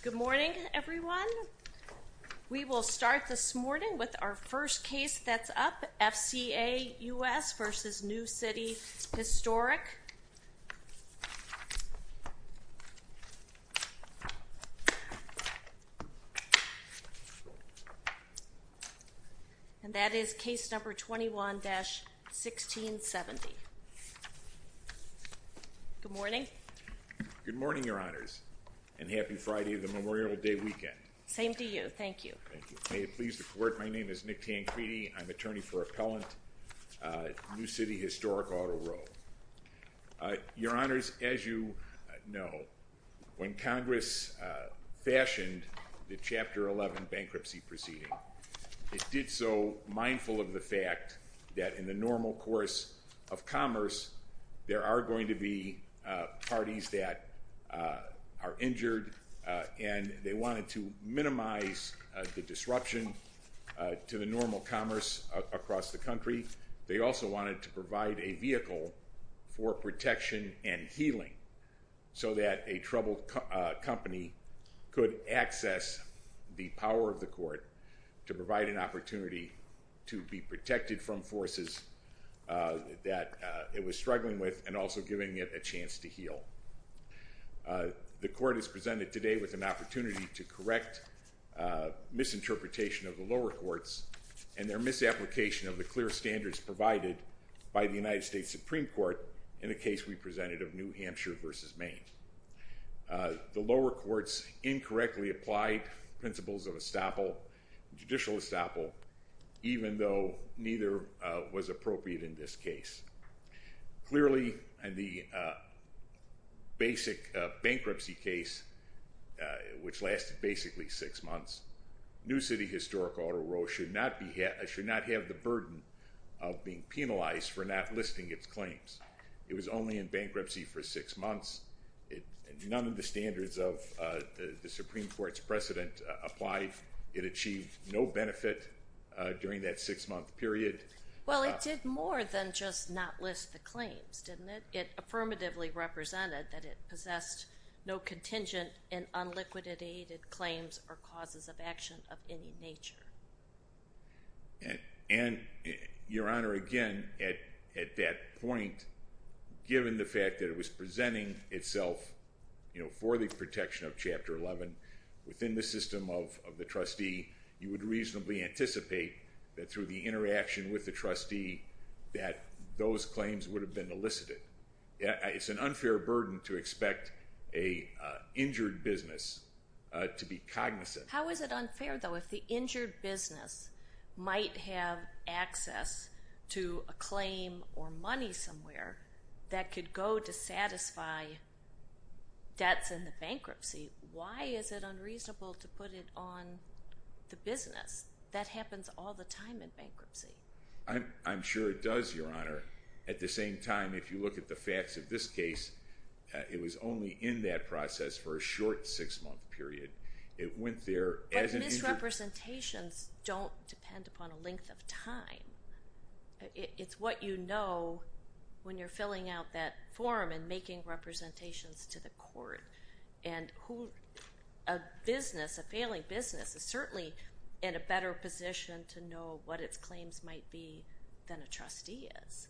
Good morning everyone we will start this morning with our first case that's up FCA US versus New City Historic Auto Row LLC and that is case number 21-1670. Good morning. Good morning Your Honors and happy Friday the Memorial Day weekend. Same to you thank you. May it please the court my name is Nick Tancredi I'm attorney for appellant New City Historic Auto Row. Your Honors as you know when Congress fashioned the so mindful of the fact that in the normal course of commerce there are going to be parties that are injured and they wanted to minimize the disruption to the normal commerce across the country. They also wanted to provide a vehicle for protection and healing so that a troubled company could access the power of the court to provide an opportunity to be protected from forces that it was struggling with and also giving it a chance to heal. The court is presented today with an opportunity to correct misinterpretation of the lower courts and their misapplication of the clear standards provided by the United States Supreme Court in a case we presented of New Hampshire versus Maine. The lower courts incorrectly applied principles of estoppel, judicial estoppel, even though neither was appropriate in this case. Clearly and the basic bankruptcy case which lasted basically six months, New City Historic Auto Row should not have the burden of being penalized for not listing its claims. It was only in bankruptcy for six months. None of the standards of the Supreme Court's precedent applied. It achieved no benefit during that six month period. Well it did more than just not list the claims didn't it? It affirmatively represented that it possessed no contingent and unliquidated claims or causes of action of any nature. And your honor again at that point given the fact that it was presenting itself you know for the protection of chapter 11 within the system of the trustee you would reasonably anticipate that through the interaction with the trustee that those claims would have been elicited. It's an unfair burden to expect a injured business to be cognizant. How is it unfair though if the injured business might have access to a claim or money somewhere that could go to satisfy debts in the bankruptcy? Why is it unreasonable to put it on the business? That happens all the time in bankruptcy. I'm sure it does your honor. At the same time if you look at the facts of this case it was only in that process for a short six month period. It went there. But misrepresentations don't depend upon a length of time. It's what you know when you're filling out that form and making representations to the court and who a business a failing business is certainly in a better position to know what its claims might be than a trustee is.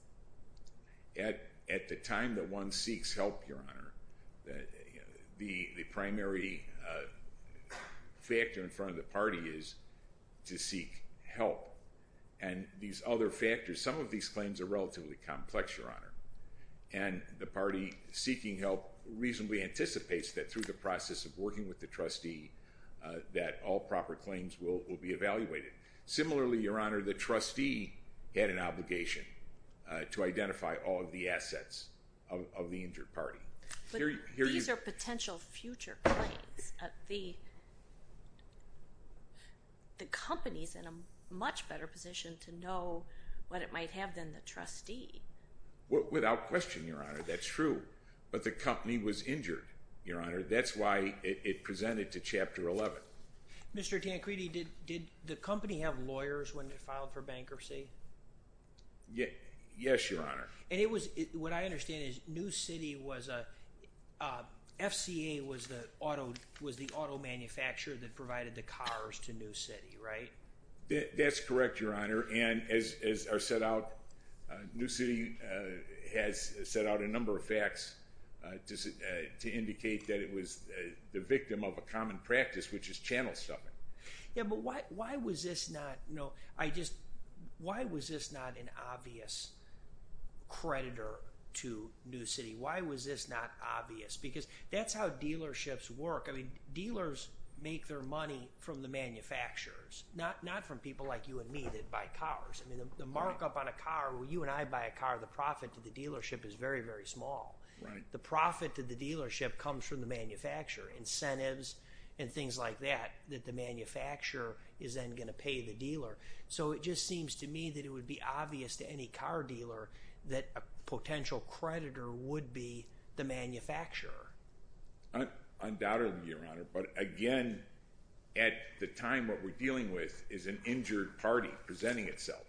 At the time that one seeks help your honor the primary factor in front of the party is to seek help and these other factors some of these claims are relatively complex your honor and the party seeking help reasonably anticipates that through the process of working with the trustee that all proper claims will be evaluated. Similarly your honor the trustee had an obligation to identify all of the assets of the injured party. These are potential future claims. The company's in a much better position to know what it might have than the trustee. Without question your honor that's true but the company was injured your honor that's why it presented to chapter 11. Mr. Tancredi did the company have lawyers when they filed for bankruptcy? Yes your honor. And it was what I was a FCA was the auto was the auto manufacturer that provided the cars to New City right? That's correct your honor and as are set out New City has set out a number of facts to indicate that it was the victim of a common practice which is channel stuffing. Yeah but why why was this not no I just why was this not an obvious creditor to New City why was this not obvious because that's how dealerships work I mean dealers make their money from the manufacturers not not from people like you and me that buy cars I mean the markup on a car when you and I buy a car the profit to the dealership is very very small right the profit to the dealership comes from the manufacturer incentives and things like that that the manufacturer is then going to pay the dealer so it just seems to me that it would be obvious to any car dealer that a potential creditor would be the manufacturer. Undoubtedly your honor but again at the time what we're dealing with is an injured party presenting itself.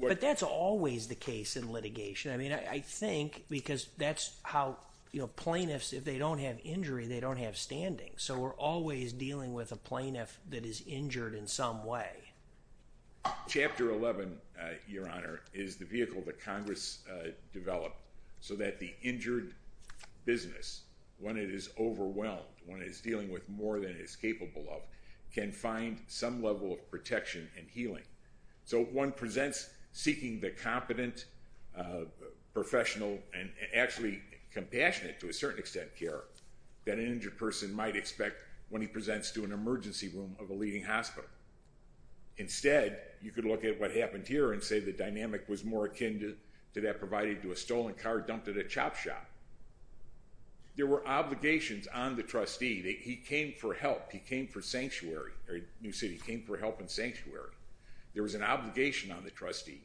But that's always the case in litigation I mean I think because that's how you know plaintiffs if they don't have injury they don't have standing so we're always dealing with a plaintiff that is injured in some way. Chapter 11 your honor is the vehicle that Congress developed so that the injured business when it is overwhelmed when it is dealing with more than it's capable of can find some level of protection and healing so one presents seeking the competent professional and actually compassionate to a certain extent care that an injured person might expect when he presents to an emergency room of a leading hospital. Instead you could look at what happened here and say the dynamic was more akin to that provided to a stolen car dumped at a chop shop. There were obligations on the trustee that he came for help he came for sanctuary or New City came for help and sanctuary. There was an obligation on the trustee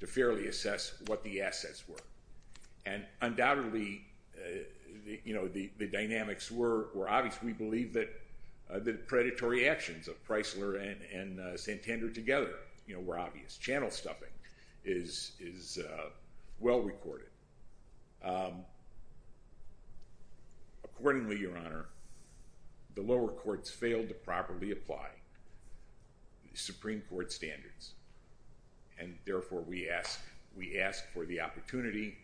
to fairly assess what the assets were and undoubtedly you know the the dynamics were were obvious we believe that the predatory actions of Pricelar and Santander together you know were obvious. Channel stuffing is is well recorded. Accordingly your honor the lower courts failed to properly apply the Supreme Court standards and therefore we ask we ask for the opportunity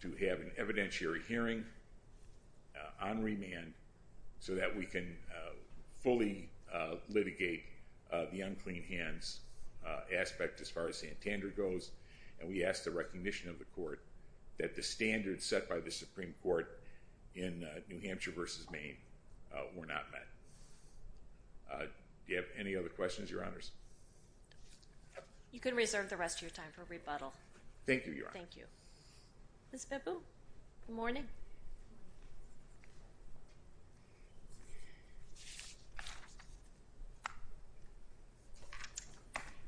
to have an on-remand so that we can fully litigate the unclean hands aspect as far as Santander goes and we ask the recognition of the court that the standards set by the Supreme Court in New Hampshire versus Maine were not met. Do you have any other questions your honors? You can reserve the rest of your time for rebuttal. Thank you your honor. Thank you. Ms. Bebu, good morning.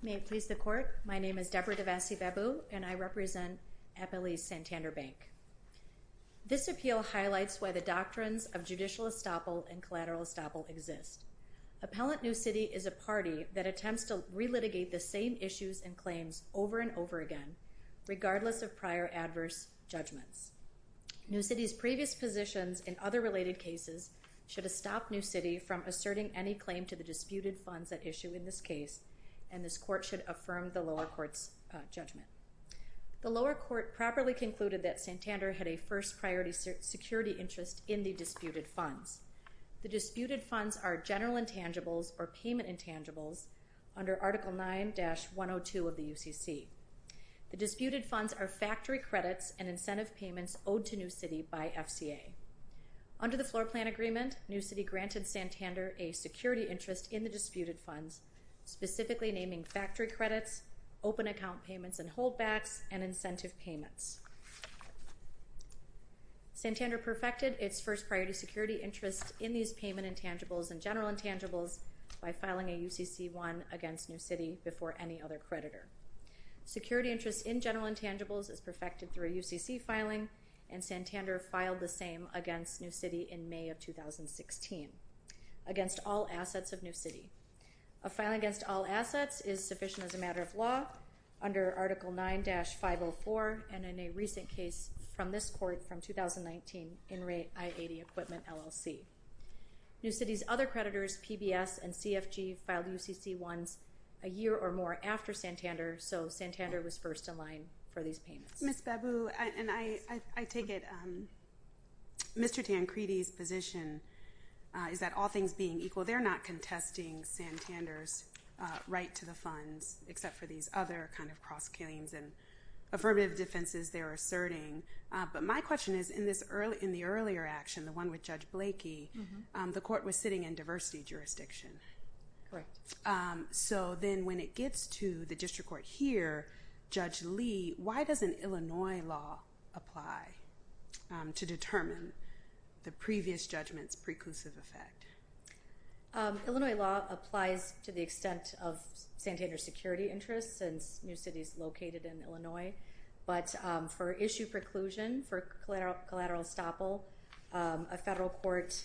May it please the court my name is Deborah DeVassie Bebu and I represent Appalachia Santander Bank. This appeal highlights why the doctrines of judicial estoppel and collateral estoppel exist. Appellant New City is a party that over again regardless of prior adverse judgments. New City's previous positions in other related cases should have stopped New City from asserting any claim to the disputed funds that issue in this case and this court should affirm the lower courts judgment. The lower court properly concluded that Santander had a first priority security interest in the disputed funds. The disputed funds are general intangibles or payment intangibles under article 9 102 of the UCC. The disputed funds are factory credits and incentive payments owed to New City by FCA. Under the floor plan agreement New City granted Santander a security interest in the disputed funds specifically naming factory credits open account payments and holdbacks and incentive payments. Santander perfected its first priority security interest in these payment intangibles and general intangibles by filing a UCC one against New City before any other creditor. Security interest in general intangibles is perfected through a UCC filing and Santander filed the same against New City in May of 2016 against all assets of New City. A filing against all assets is sufficient as a matter of law under article 9-504 and in a recent case from this court from 2019 in rate I-80 equipment LLC. New City's other or more after Santander so Santander was first in line for these payments. Ms. Babu and I I take it Mr. Tancredi's position is that all things being equal they're not contesting Santander's right to the funds except for these other kind of cross-claims and affirmative defenses they're asserting but my question is in this early in the earlier action the one with Judge Blakey the court was sitting in diversity jurisdiction so then when it gets to the district court here Judge Lee why doesn't Illinois law apply to determine the previous judgments preclusive effect? Illinois law applies to the extent of Santander security interest since New City's located in Illinois but for issue preclusion for collateral collateral estoppel a federal court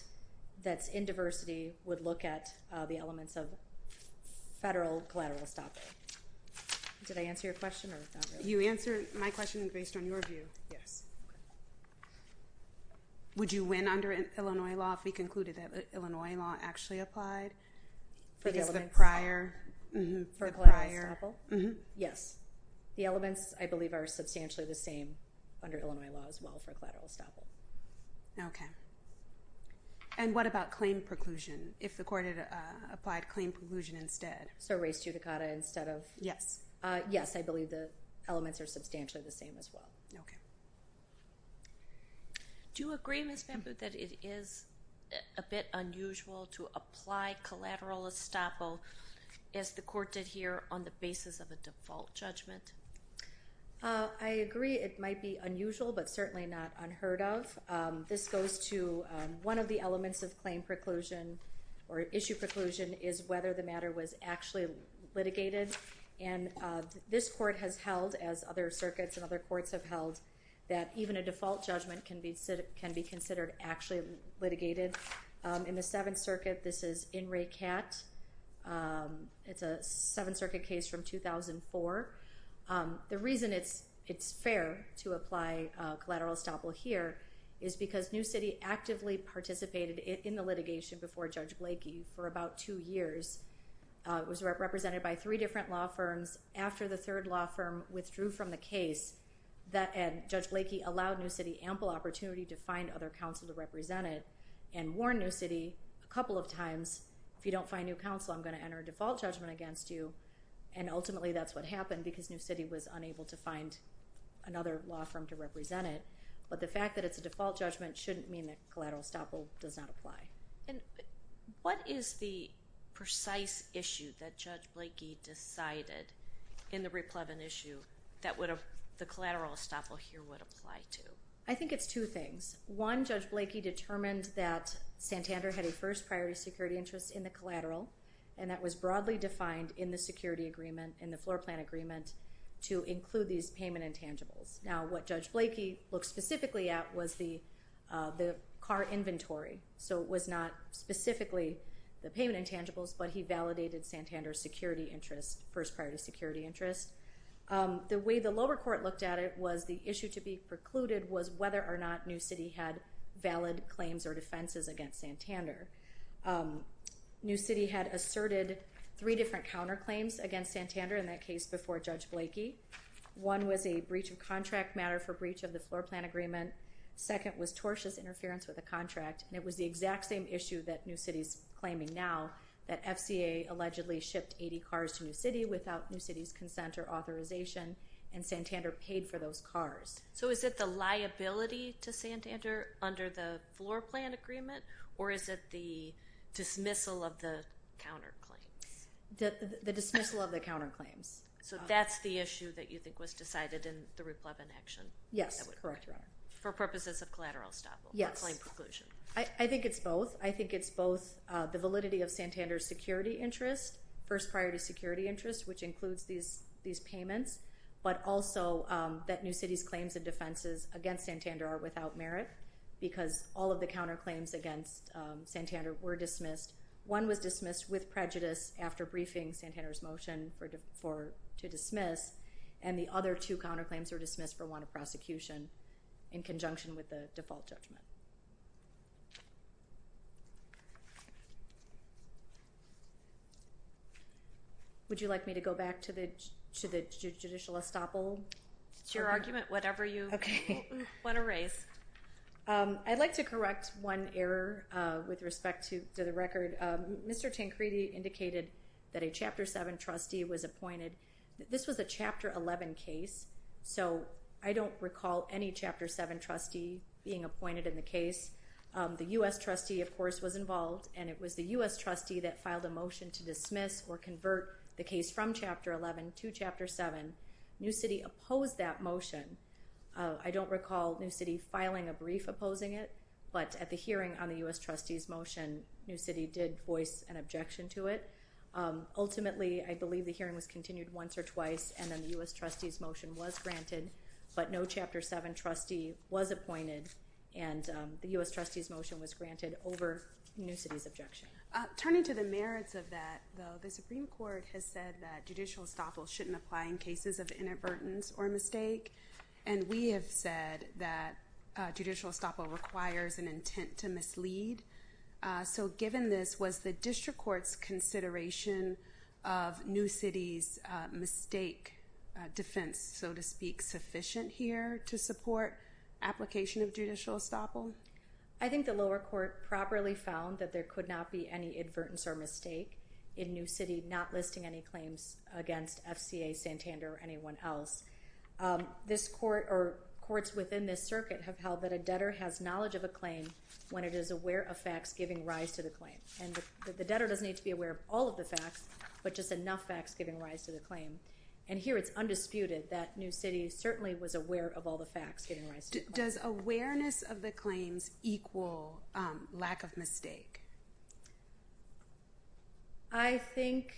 that's in diversity would look at the elements of federal collateral estoppel. Did I answer your question? You answered my question based on your view yes. Would you win under Illinois law if we concluded that Illinois law actually applied for the prior? Yes the elements I believe are substantially the same under Illinois law as well for collateral estoppel. Okay and what about claim preclusion if the court had applied claim preclusion instead? So race judicata instead of? Yes. Yes I believe the elements are substantially the same as well. Okay. Do you agree Ms. Babu that it is a bit unusual to apply collateral estoppel as the court did here on the basis of a default judgment? I agree it might be unusual but certainly not unheard of. This goes to one of the elements of claim preclusion or issue preclusion is whether the matter was actually litigated and this court has held as other circuits and other courts have held that even a default judgment can be said it can be considered actually litigated. In the Seventh Circuit this is In re Cat. It's a Seventh Circuit. It's fair to apply collateral estoppel here is because New City actively participated in the litigation before Judge Blakey for about two years. It was represented by three different law firms after the third law firm withdrew from the case that and Judge Blakey allowed New City ample opportunity to find other counsel to represent it and warn New City a couple of times if you don't find new counsel I'm going to enter a default judgment against you and ultimately that's what happened because New City was unable to find another law firm to represent it but the fact that it's a default judgment shouldn't mean that collateral estoppel does not apply. And what is the precise issue that Judge Blakey decided in the Riplevin issue that would have the collateral estoppel here would apply to? I think it's two things. One Judge Blakey determined that Santander had a first priority security interest in the collateral and that was broadly defined in the security agreement in the floor plan agreement to include these payment intangibles. Now what Judge Blakey looked specifically at was the the car inventory so it was not specifically the payment intangibles but he validated Santander's security interest first priority security interest. The way the lower court looked at it was the issue to be precluded was whether or not New City had valid claims or defenses against Santander. New City had asserted three different counterclaims against Santander in that case before Judge Blakey. One was a breach of contract matter for breach of the floor plan agreement. Second was tortious interference with a contract and it was the exact same issue that New City's claiming now that FCA allegedly shipped 80 cars to New City without New City's consent or authorization and Santander paid for those cars. So is it the liability to Santander under the floor plan agreement or is it the dismissal of the counterclaims? The dismissal of the counterclaims. So that's the issue that you think was decided in the Rupp-Levin action? Yes, correct. For purposes of collateral establishment? Yes. I think it's both. I think it's both the validity of Santander's security interest first priority security interest which includes these these payments but also that New City's claims and defenses against Santander are without merit because all of the counterclaims against Santander were dismissed. One was dismissed with prejudice after briefing Santander's motion for to dismiss and the other two counterclaims were dismissed for want of prosecution in conjunction with the default judgment. Would you like me to go back to the judicial estoppel? It's your With respect to the record, Mr. Tancredi indicated that a Chapter 7 trustee was appointed. This was a Chapter 11 case so I don't recall any Chapter 7 trustee being appointed in the case. The U.S. trustee of course was involved and it was the U.S. trustee that filed a motion to dismiss or convert the case from Chapter 11 to Chapter 7. New City opposed that motion. I don't recall New City's motion. New City did voice an objection to it. Ultimately I believe the hearing was continued once or twice and then the U.S. trustee's motion was granted but no Chapter 7 trustee was appointed and the U.S. trustee's motion was granted over New City's objection. Turning to the merits of that though the Supreme Court has said that judicial estoppel shouldn't apply in cases of inadvertence or mistake and we have said that judicial estoppel requires an mislead. So given this was the District Court's consideration of New City's mistake defense so to speak sufficient here to support application of judicial estoppel? I think the lower court properly found that there could not be any advertence or mistake in New City not listing any claims against FCA Santander or anyone else. This court or courts within this circuit have held that a debtor has knowledge of a claim when it is aware of facts giving rise to the claim and the debtor doesn't need to be aware of all of the facts but just enough facts giving rise to the claim and here it's undisputed that New City certainly was aware of all the facts giving rise to the claim. Does awareness of the claims equal lack of mistake? I think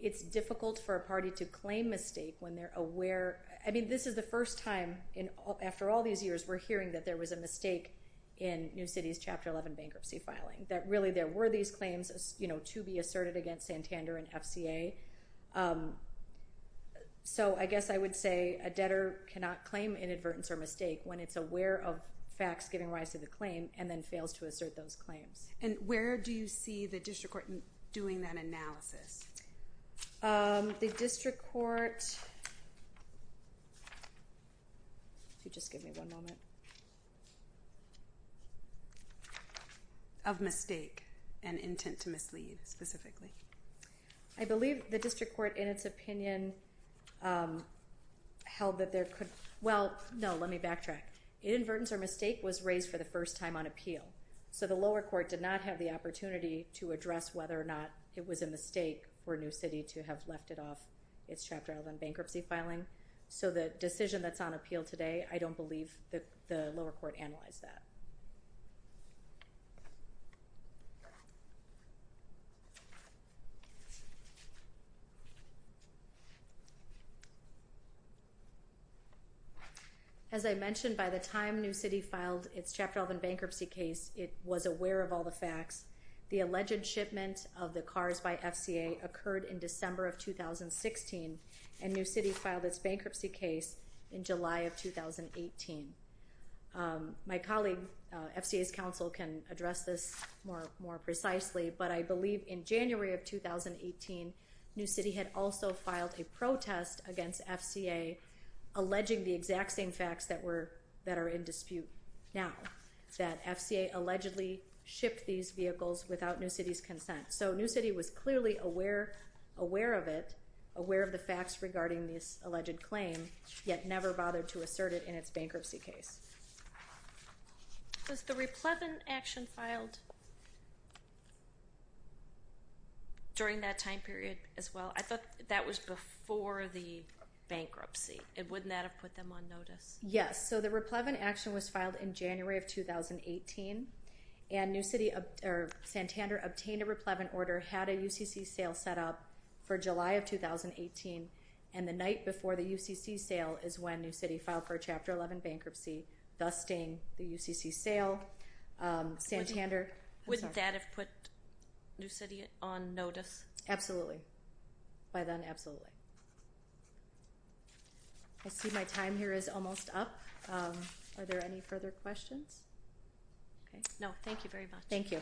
it's difficult for a party to claim mistake when they're aware I mean this is the first time in all after all these years we're hearing that there was a mistake in New City's chapter 11 bankruptcy filing that really there were these claims you know to be asserted against Santander and FCA. So I guess I would say a debtor cannot claim inadvertence or mistake when it's aware of facts giving rise to the claim and then fails to assert those claims. And where do you see the District Court doing that analysis? The District Court, if you just give me one moment, of mistake and intent to mislead specifically. I believe the District Court in its opinion held that there could well no let me backtrack. Inadvertence or mistake was raised for the first time on appeal so the lower court did not have the opportunity to for New City to have left it off its chapter 11 bankruptcy filing. So the decision that's on appeal today I don't believe that the lower court analyzed that. As I mentioned by the time New City filed its chapter 11 bankruptcy case it was aware of all the facts. The alleged shipment of the cars by FCA occurred in December of 2016 and New City filed its bankruptcy case in July of 2018. My colleague FCA's counsel can address this more more precisely but I believe in January of 2018 New City had also filed a protest against FCA alleging the exact same facts that were that are in dispute now. That FCA allegedly shipped these vehicles without New City's consent. So New City was clearly aware aware of it aware of the facts regarding this alleged claim yet never bothered to assert it in its bankruptcy case. Was the replevin action filed during that time period as well? I thought that was before the bankruptcy it wouldn't that have put them on notice. Yes so the replevin action was filed in January of 2018 and New City or Santander obtained a replevin order had a UCC sale set up for July of 2018 and the night before the UCC sale is when New City filed for a chapter 11 bankruptcy thus staying the UCC sale. Santander. Wouldn't that have put New City on notice? Absolutely. By then absolutely. I see my time here is almost up. Are there any further questions? No thank you very much. Thank you.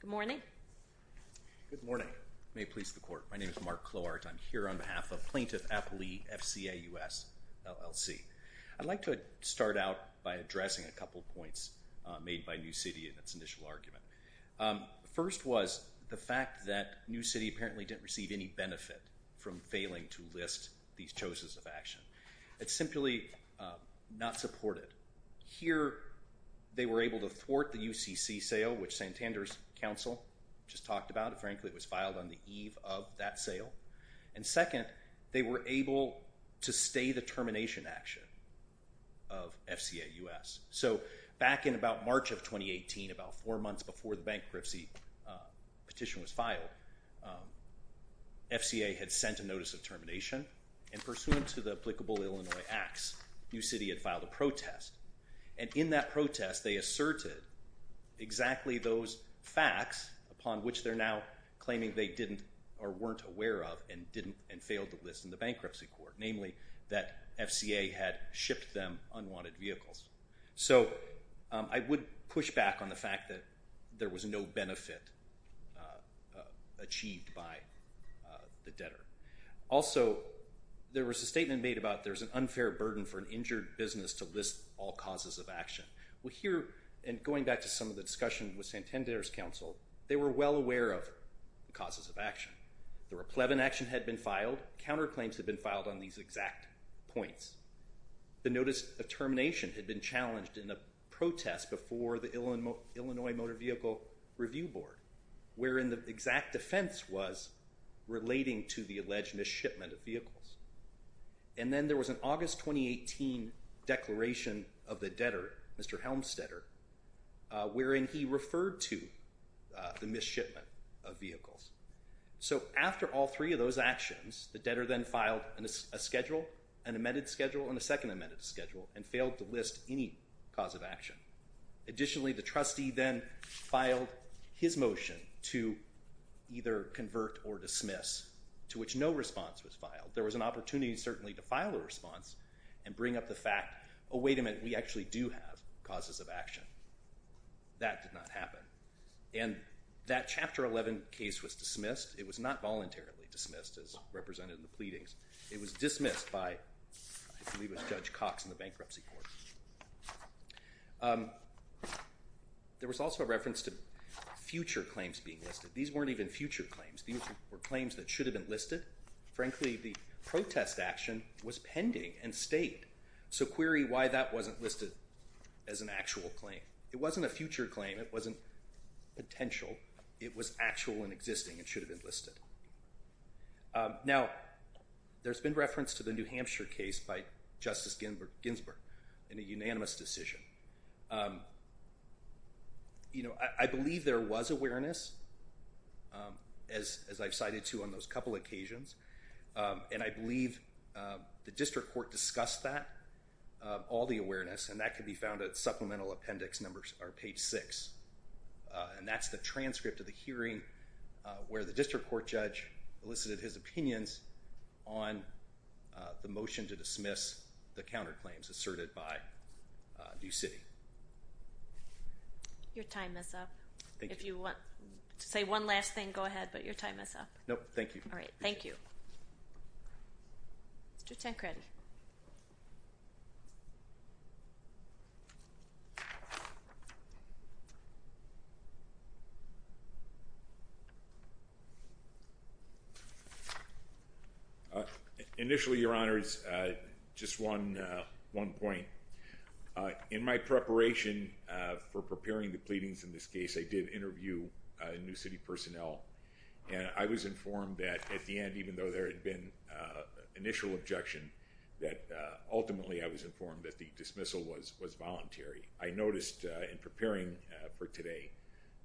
Good morning. Good morning. May it please the court. My name is Mark Clowart. I'm here on behalf of plaintiff Appley FCA US LLC. I'd like to start out by addressing a couple points made by New City in its initial argument. The first was the fact that New City apparently didn't receive any benefit from failing to list these choses of action. It's simply not supported. Here they were able to thwart the UCC sale which Santander's counsel just talked about it frankly it was filed on the eve of that sale and second they were able to stay the termination action of FCA US. So back in about March of 2018 about four months before the bankruptcy petition was filed FCA had sent a notice of termination and pursuant to the applicable Illinois acts New City had filed a protest and in that protest they asserted exactly those facts upon which they're now claiming they didn't or weren't aware of and didn't and failed to list in the bankruptcy court namely that FCA had shipped them unwanted vehicles. So I would push back on the fact that there was no benefit achieved by the debtor. Also there was a statement made about there's an unfair burden for an injured business to list all causes of action. Well here and going back to some of the discussion with Santander's counsel they were well aware of the causes of action. The replevant action had been filed, counterclaims had been filed on these exact points. The notice of termination had been challenged in a protest before the Illinois Motor Vehicle Review Board wherein the exact offense was relating to the alleged mishipment of vehicles and then there was an August 2018 declaration of the debtor Mr. Helmstetter wherein he referred to the mishipment of vehicles. So after all three of those actions the debtor then filed a schedule, an amended schedule, and a second amended schedule and failed to list any cause of action. Additionally the trustee then filed his motion to either convert or dismiss to which no response was filed. There was an opportunity certainly to file a response and bring up the fact oh wait a minute we actually do have causes of action. That did not happen and that chapter 11 case was dismissed. It was not voluntarily dismissed as represented in the pleadings. It was dismissed. There was also a reference to future claims being listed. These weren't even future claims. These were claims that should have been listed. Frankly the protest action was pending and stayed. So query why that wasn't listed as an actual claim. It wasn't a future claim. It wasn't potential. It was actual and existing and should have been listed. Now there's been reference to the New City. You know I believe there was awareness as I've cited to on those couple occasions and I believe the district court discussed that all the awareness and that could be found at supplemental appendix numbers are page six and that's the transcript of the hearing where the district court judge elicited his opinions on the motion to dismiss the counterclaims asserted by New City. Your time is up. If you want to say one last thing go ahead but your time is up. No thank you. All right. Thank you. Mr. Tancred. Initially your honors just one one point. In my preparation for preparing the pleadings in this case I did interview New City personnel and I was that ultimately I was informed that the dismissal was was voluntary. I noticed in preparing for today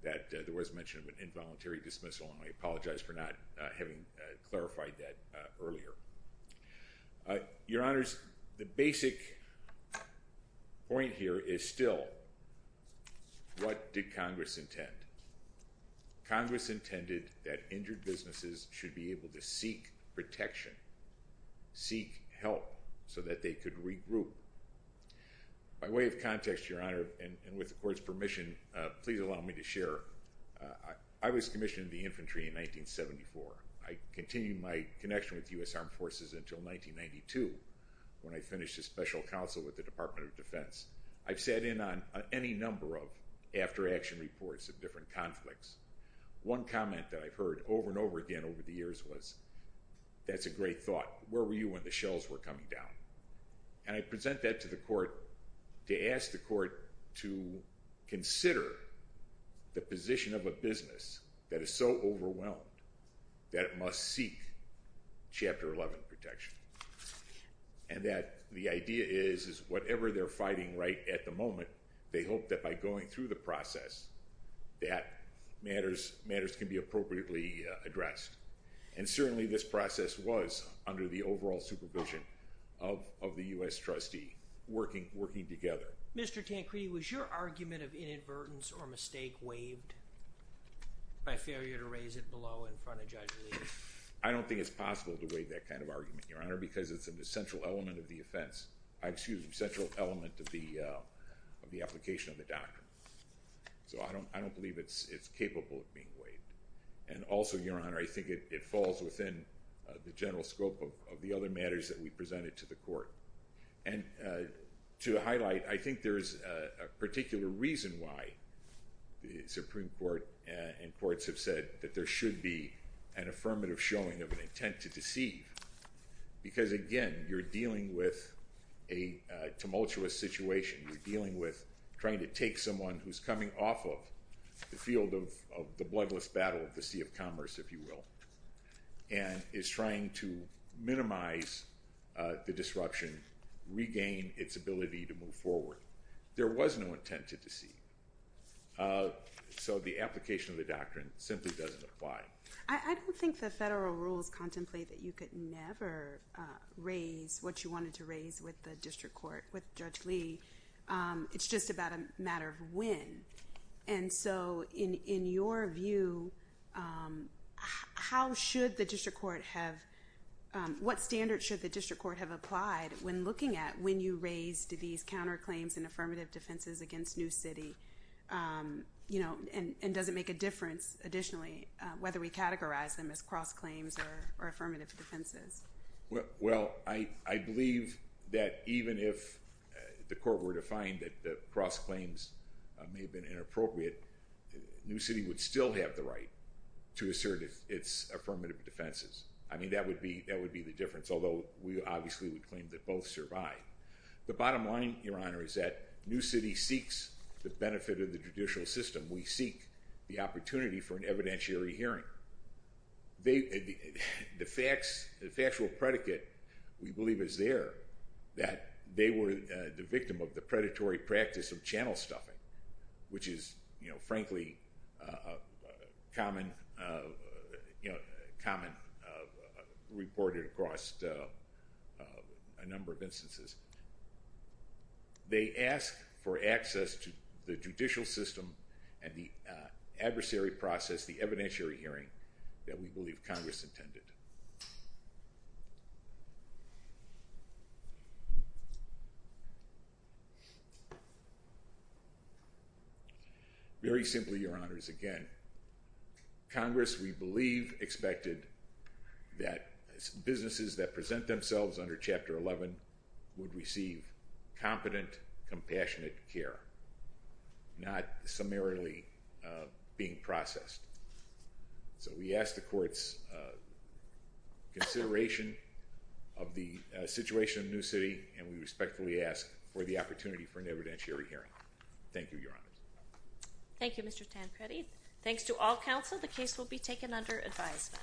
that there was mention of an involuntary dismissal and I apologize for not having clarified that earlier. Your honors the basic point here is still what did Congress intend. Congress intended that injured so that they could regroup. By way of context your honor and with the court's permission please allow me to share. I was commissioned in the infantry in 1974. I continued my connection with US Armed Forces until 1992 when I finished a special counsel with the Department of Defense. I've sat in on any number of after-action reports of different conflicts. One comment that I've heard over and over again over the years was that's a great thought. Where were you when the shells were coming down? And I present that to the court to ask the court to consider the position of a business that is so overwhelmed that it must seek chapter 11 protection. And that the idea is is whatever they're fighting right at the moment they hope that by going through the process that matters matters can be appropriately addressed. And certainly this process was under the overall supervision of the US trustee working together. Mr. Tancredi was your argument of inadvertence or mistake waived by failure to raise it below in front of Judge Lee? I don't think it's possible to waive that kind of argument your honor because it's an essential element of the offense. I excuse me central element of the of the application of the doctrine. So I don't I don't believe it's it's capable of being waived. And also your honor I think it falls within the general scope of the other matters that we presented to the court. And to highlight I think there is a particular reason why the Supreme Court and courts have said that there should be an affirmative showing of an intent to deceive. Because again you're dealing with a tumultuous situation. You're dealing with trying to take someone who's coming off of the field of the bloodless battle of the sea of commerce if you will. And is trying to minimize the disruption regain its ability to move forward. There was no intent to deceive. So the application of the doctrine simply doesn't apply. I don't think the federal rules contemplate that you could never raise what you wanted to raise with the district court with Judge Lee. It's just about a matter of when. And so in in your view how should the district court have what standard should the district court have applied when looking at when you raise to these counterclaims and affirmative defenses against New City you know and and does it make a difference additionally whether we categorize them as cross claims or affirmative defenses. Well I I believe that even if the court were to find that the cross claims may have been inappropriate. New City would still have the right to assert its affirmative defenses. I mean that would be that would be the difference although we obviously would claim that both survive. The bottom line your honor is that New City seeks the benefit of the judicial system. We seek the opportunity for an evidentiary hearing. They the facts the factual predicate we believe is there that they were the victim of the predatory practice of channel stuffing which is you know frankly common you know common reported across a number of instances. They ask for access to the judicial system and the adversary process the evidentiary hearing that we believe Congress intended. Very simply your honors again Congress we believe expected that businesses that present themselves under chapter 11 would receive competent compassionate care not summarily being processed. So we asked the courts consideration of the situation of New City and we respectfully ask for the opportunity for an evidentiary hearing. Thank you your honor. Thank you Mr. Tancredi. Thanks to all counsel the case will be taken under advisement.